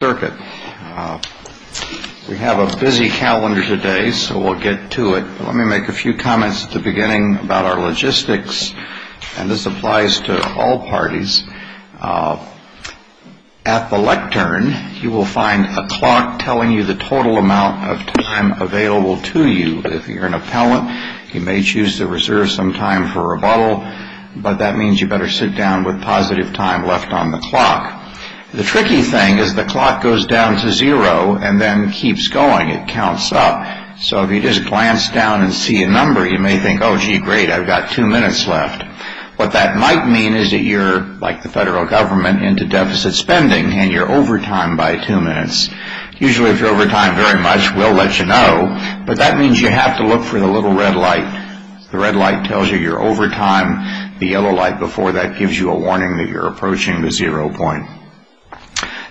We have a busy calendar today, so we'll get to it. Let me make a few comments at the beginning about our logistics, and this applies to all parties. At the lectern, you will find a clock telling you the total amount of time available to you. If you're an appellant, you may choose to reserve some time for rebuttal, but that means you better sit down with positive time left on the clock. The tricky thing is the clock goes down to zero and then keeps going. It counts up. So if you just glance down and see a number, you may think, oh, gee, great, I've got two minutes left. What that might mean is that you're, like the federal government, into deficit spending, and you're overtime by two minutes. Usually if you're overtime very much, we'll let you know, but that means you have to look for the little red light. The red light tells you you're overtime. The yellow light before that gives you a warning that you're approaching the zero point.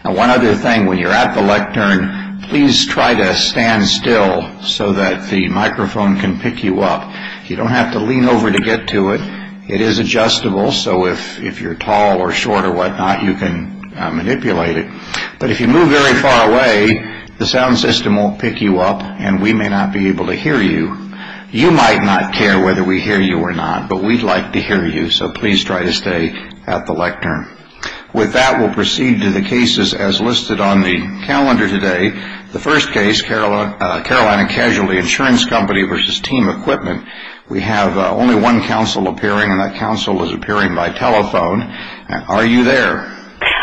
One other thing, when you're at the lectern, please try to stand still so that the microphone can pick you up. You don't have to lean over to get to it. It is adjustable, so if you're tall or short or whatnot, you can manipulate it. But if you move very far away, the sound system won't pick you up, and we may not be able to hear you. You might not care whether we hear you or not, but we'd like to hear you, so please try to stay at the lectern. With that, we'll proceed to the cases as listed on the calendar today. The first case, Carolina Casualty Insurance Company versus Team Equipment. We have only one counsel appearing, and that counsel is appearing by telephone. Are you there?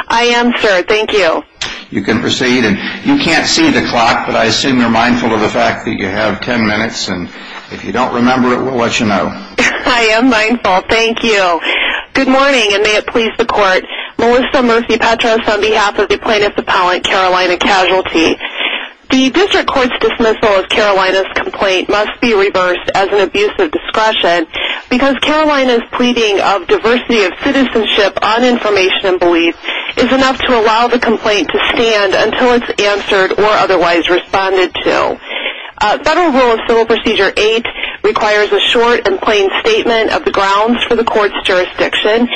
I am, sir. Thank you. You can proceed, and you can't see the clock, but I assume you're mindful of the fact that you have ten minutes, and if you don't remember it, we'll let you know. I am mindful. Thank you. Good morning, and may it please the Court. Melissa Murphy-Petros on behalf of the plaintiff's appellant, Carolina Casualty. The district court's dismissal of Carolina's complaint must be reversed as an abuse of discretion because Carolina's pleading of diversity of citizenship on information and belief is enough to allow the complaint to stand until it's answered or otherwise responded to. Federal Rule of Civil Procedure 8 requires a short and plain statement of the grounds for the court's jurisdiction,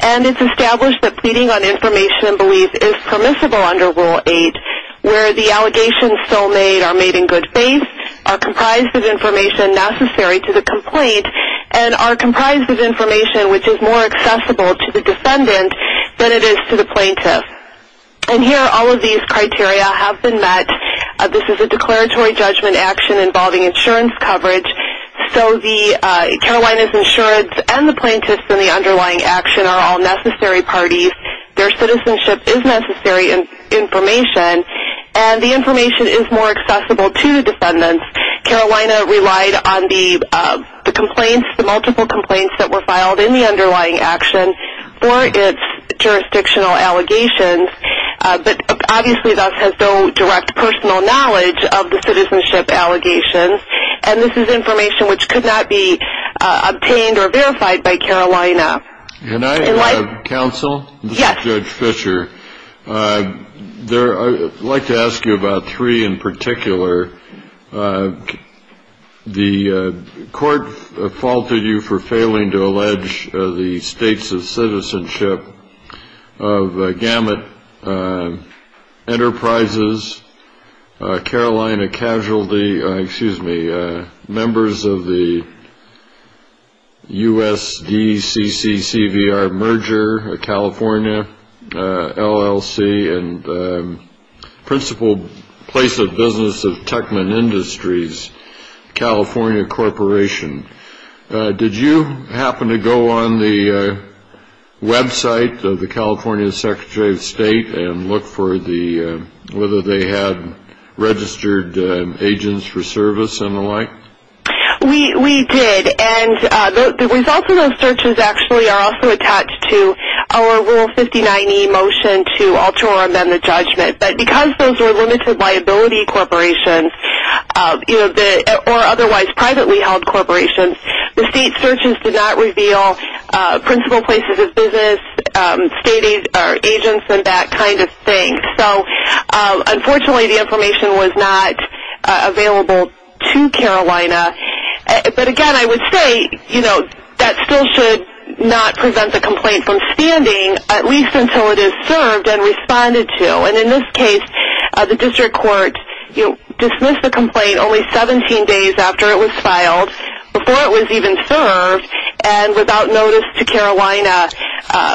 and it's established that pleading on information and belief is permissible under Rule 8, where the allegations still made are made in good faith, are comprised of information necessary to the complaint, and are comprised of information which is more accessible to the defendant than it is to the plaintiff. And here, all of these criteria have been met. This is a declaratory judgment action involving insurance coverage, so Carolina's insurance and the plaintiff's and the underlying action are all necessary parties. Their citizenship is necessary information, and the information is more accessible to the defendant. Carolina relied on the multiple complaints that were filed in the underlying action for its jurisdictional allegations, but obviously thus has no direct personal knowledge of the citizenship allegations, and this is information which could not be obtained or verified by Carolina. Can I counsel? Yes. Judge Fischer, I'd like to ask you about three in particular. The court faulted you for failing to allege the states of citizenship of Gamut Enterprises, Carolina Casualty, members of the USDCCCVR merger, California LLC, and principal place of business of Techman Industries, California Corporation. Did you happen to go on the website of the California Secretary of State and look for whether they had registered agents for service and the like? We did, and the results of those searches actually are also attached to our Rule 59e motion to alter or amend the judgment, but because those were limited liability corporations or otherwise privately held corporations, the state searches did not reveal principal places of business, state agents, and that kind of thing. So unfortunately the information was not available to Carolina, but again I would say that still should not prevent the complaint from standing at least until it is served and responded to, and in this case the district court dismissed the complaint only 17 days after it was filed, before it was even served, and without notice to Carolina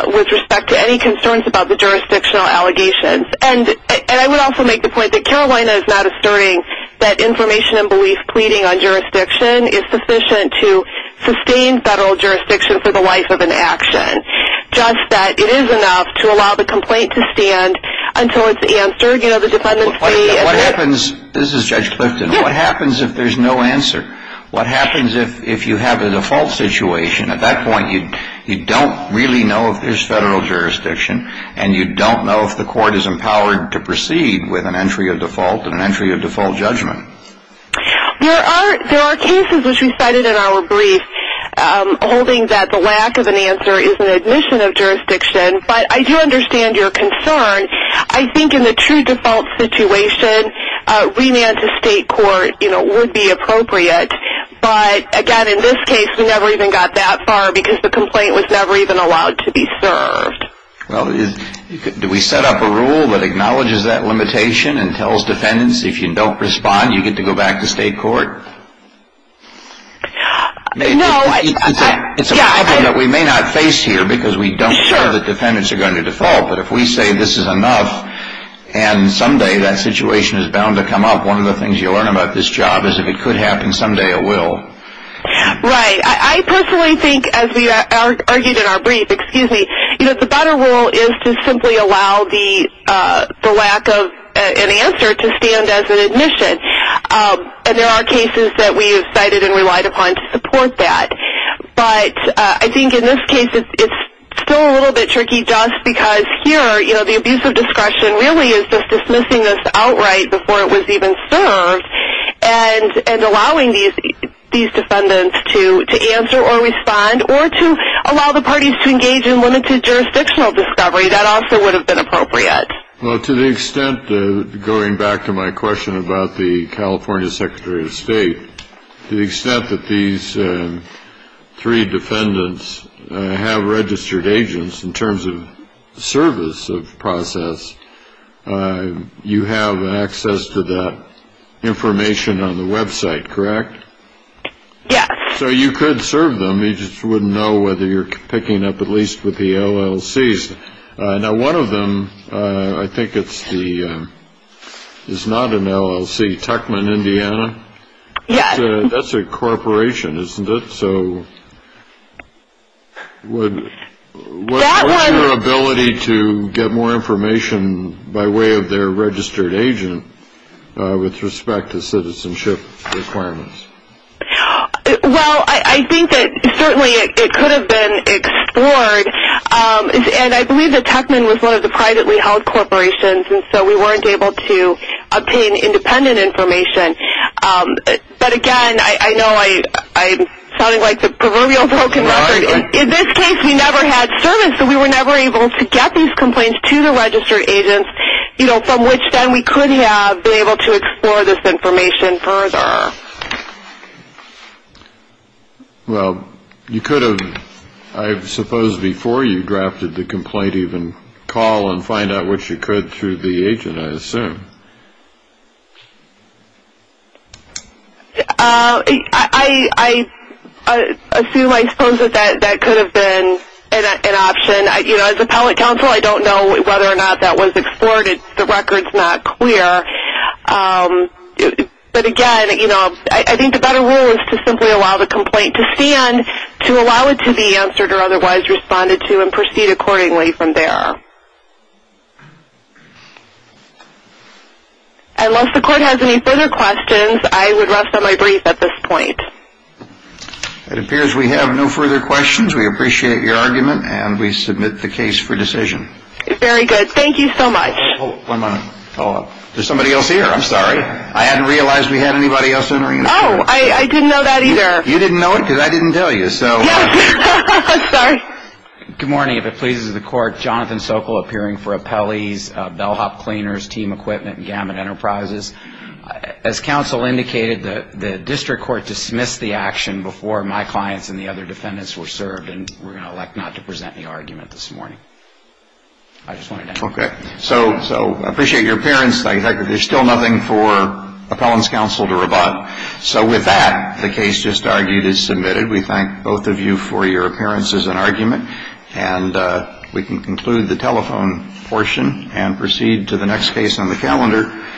with respect to any concerns about the jurisdictional allegations. And I would also make the point that Carolina is not asserting that information and belief pleading on jurisdiction is sufficient to sustain federal jurisdiction for the life of an action, just that it is enough to allow the complaint to stand until it's answered. This is Judge Clifton. What happens if there's no answer? What happens if you have a default situation? At that point you don't really know if there's federal jurisdiction, and you don't know if the court is empowered to proceed with an entry of default and an entry of default judgment. There are cases which we cited in our brief holding that the lack of an answer is an admission of jurisdiction, but I do understand your concern. I think in the true default situation, remand to state court would be appropriate, but again in this case we never even got that far because the complaint was never even allowed to be served. Well, do we set up a rule that acknowledges that limitation and tells defendants if you don't respond, you get to go back to state court? No. It's a problem that we may not face here because we don't know that defendants are going to default, but if we say this is enough and someday that situation is bound to come up, one of the things you'll learn about this job is if it could happen, someday it will. Right. I personally think, as we argued in our brief, the better rule is to simply allow the lack of an answer to stand as an admission, and there are cases that we have cited and relied upon to support that, but I think in this case it's still a little bit tricky just because here the abuse of discretion really is just dismissing this outright before it was even served and allowing these defendants to answer or respond or to allow the parties to engage in limited jurisdictional discovery, that also would have been appropriate. Well, to the extent, going back to my question about the California Secretary of State, to the extent that these three defendants have registered agents in terms of service of process, you have access to that information on the website, correct? Yes. So you could serve them, you just wouldn't know whether you're picking up at least with the LLCs. Now one of them, I think it's the, it's not an LLC, Tuckman, Indiana? Yes. That's a corporation, isn't it? So what's your ability to get more information by way of their registered agent with respect to citizenship requirements? Well, I think that certainly it could have been explored, and I believe that Tuckman was one of the privately held corporations, and so we weren't able to obtain independent information. But again, I know I'm sounding like the proverbial broken record. In this case, we never had service, so we were never able to get these complaints to the registered agents, you know, from which then we could have been able to explore this information further. Well, you could have, I suppose, before you drafted the complaint, even call and find out what you could through the agent, I assume. I assume, I suppose that that could have been an option. And, you know, as appellate counsel, I don't know whether or not that was explored. The record's not clear. But again, you know, I think the better rule is to simply allow the complaint to stand, to allow it to be answered or otherwise responded to and proceed accordingly from there. Unless the court has any further questions, I would rest on my brief at this point. It appears we have no further questions. We appreciate your argument and we submit the case for decision. Very good. Thank you so much. One moment. Hold on. There's somebody else here. I'm sorry. I hadn't realized we had anybody else entering. Oh, I didn't know that either. You didn't know it because I didn't tell you, so. Yes. I'm sorry. Good morning. If it pleases the court, Jonathan Sokol appearing for appellees, bellhop cleaners, team equipment and gamut enterprises. As counsel indicated, the district court dismissed the action before my clients and the other defendants were served. And we're going to elect not to present the argument this morning. I just wanted to. Okay. So I appreciate your appearance. There's still nothing for appellant's counsel to rebut. So with that, the case just argued is submitted. We thank both of you for your appearances and argument. And we can conclude the telephone portion and proceed to the next case on the calendar.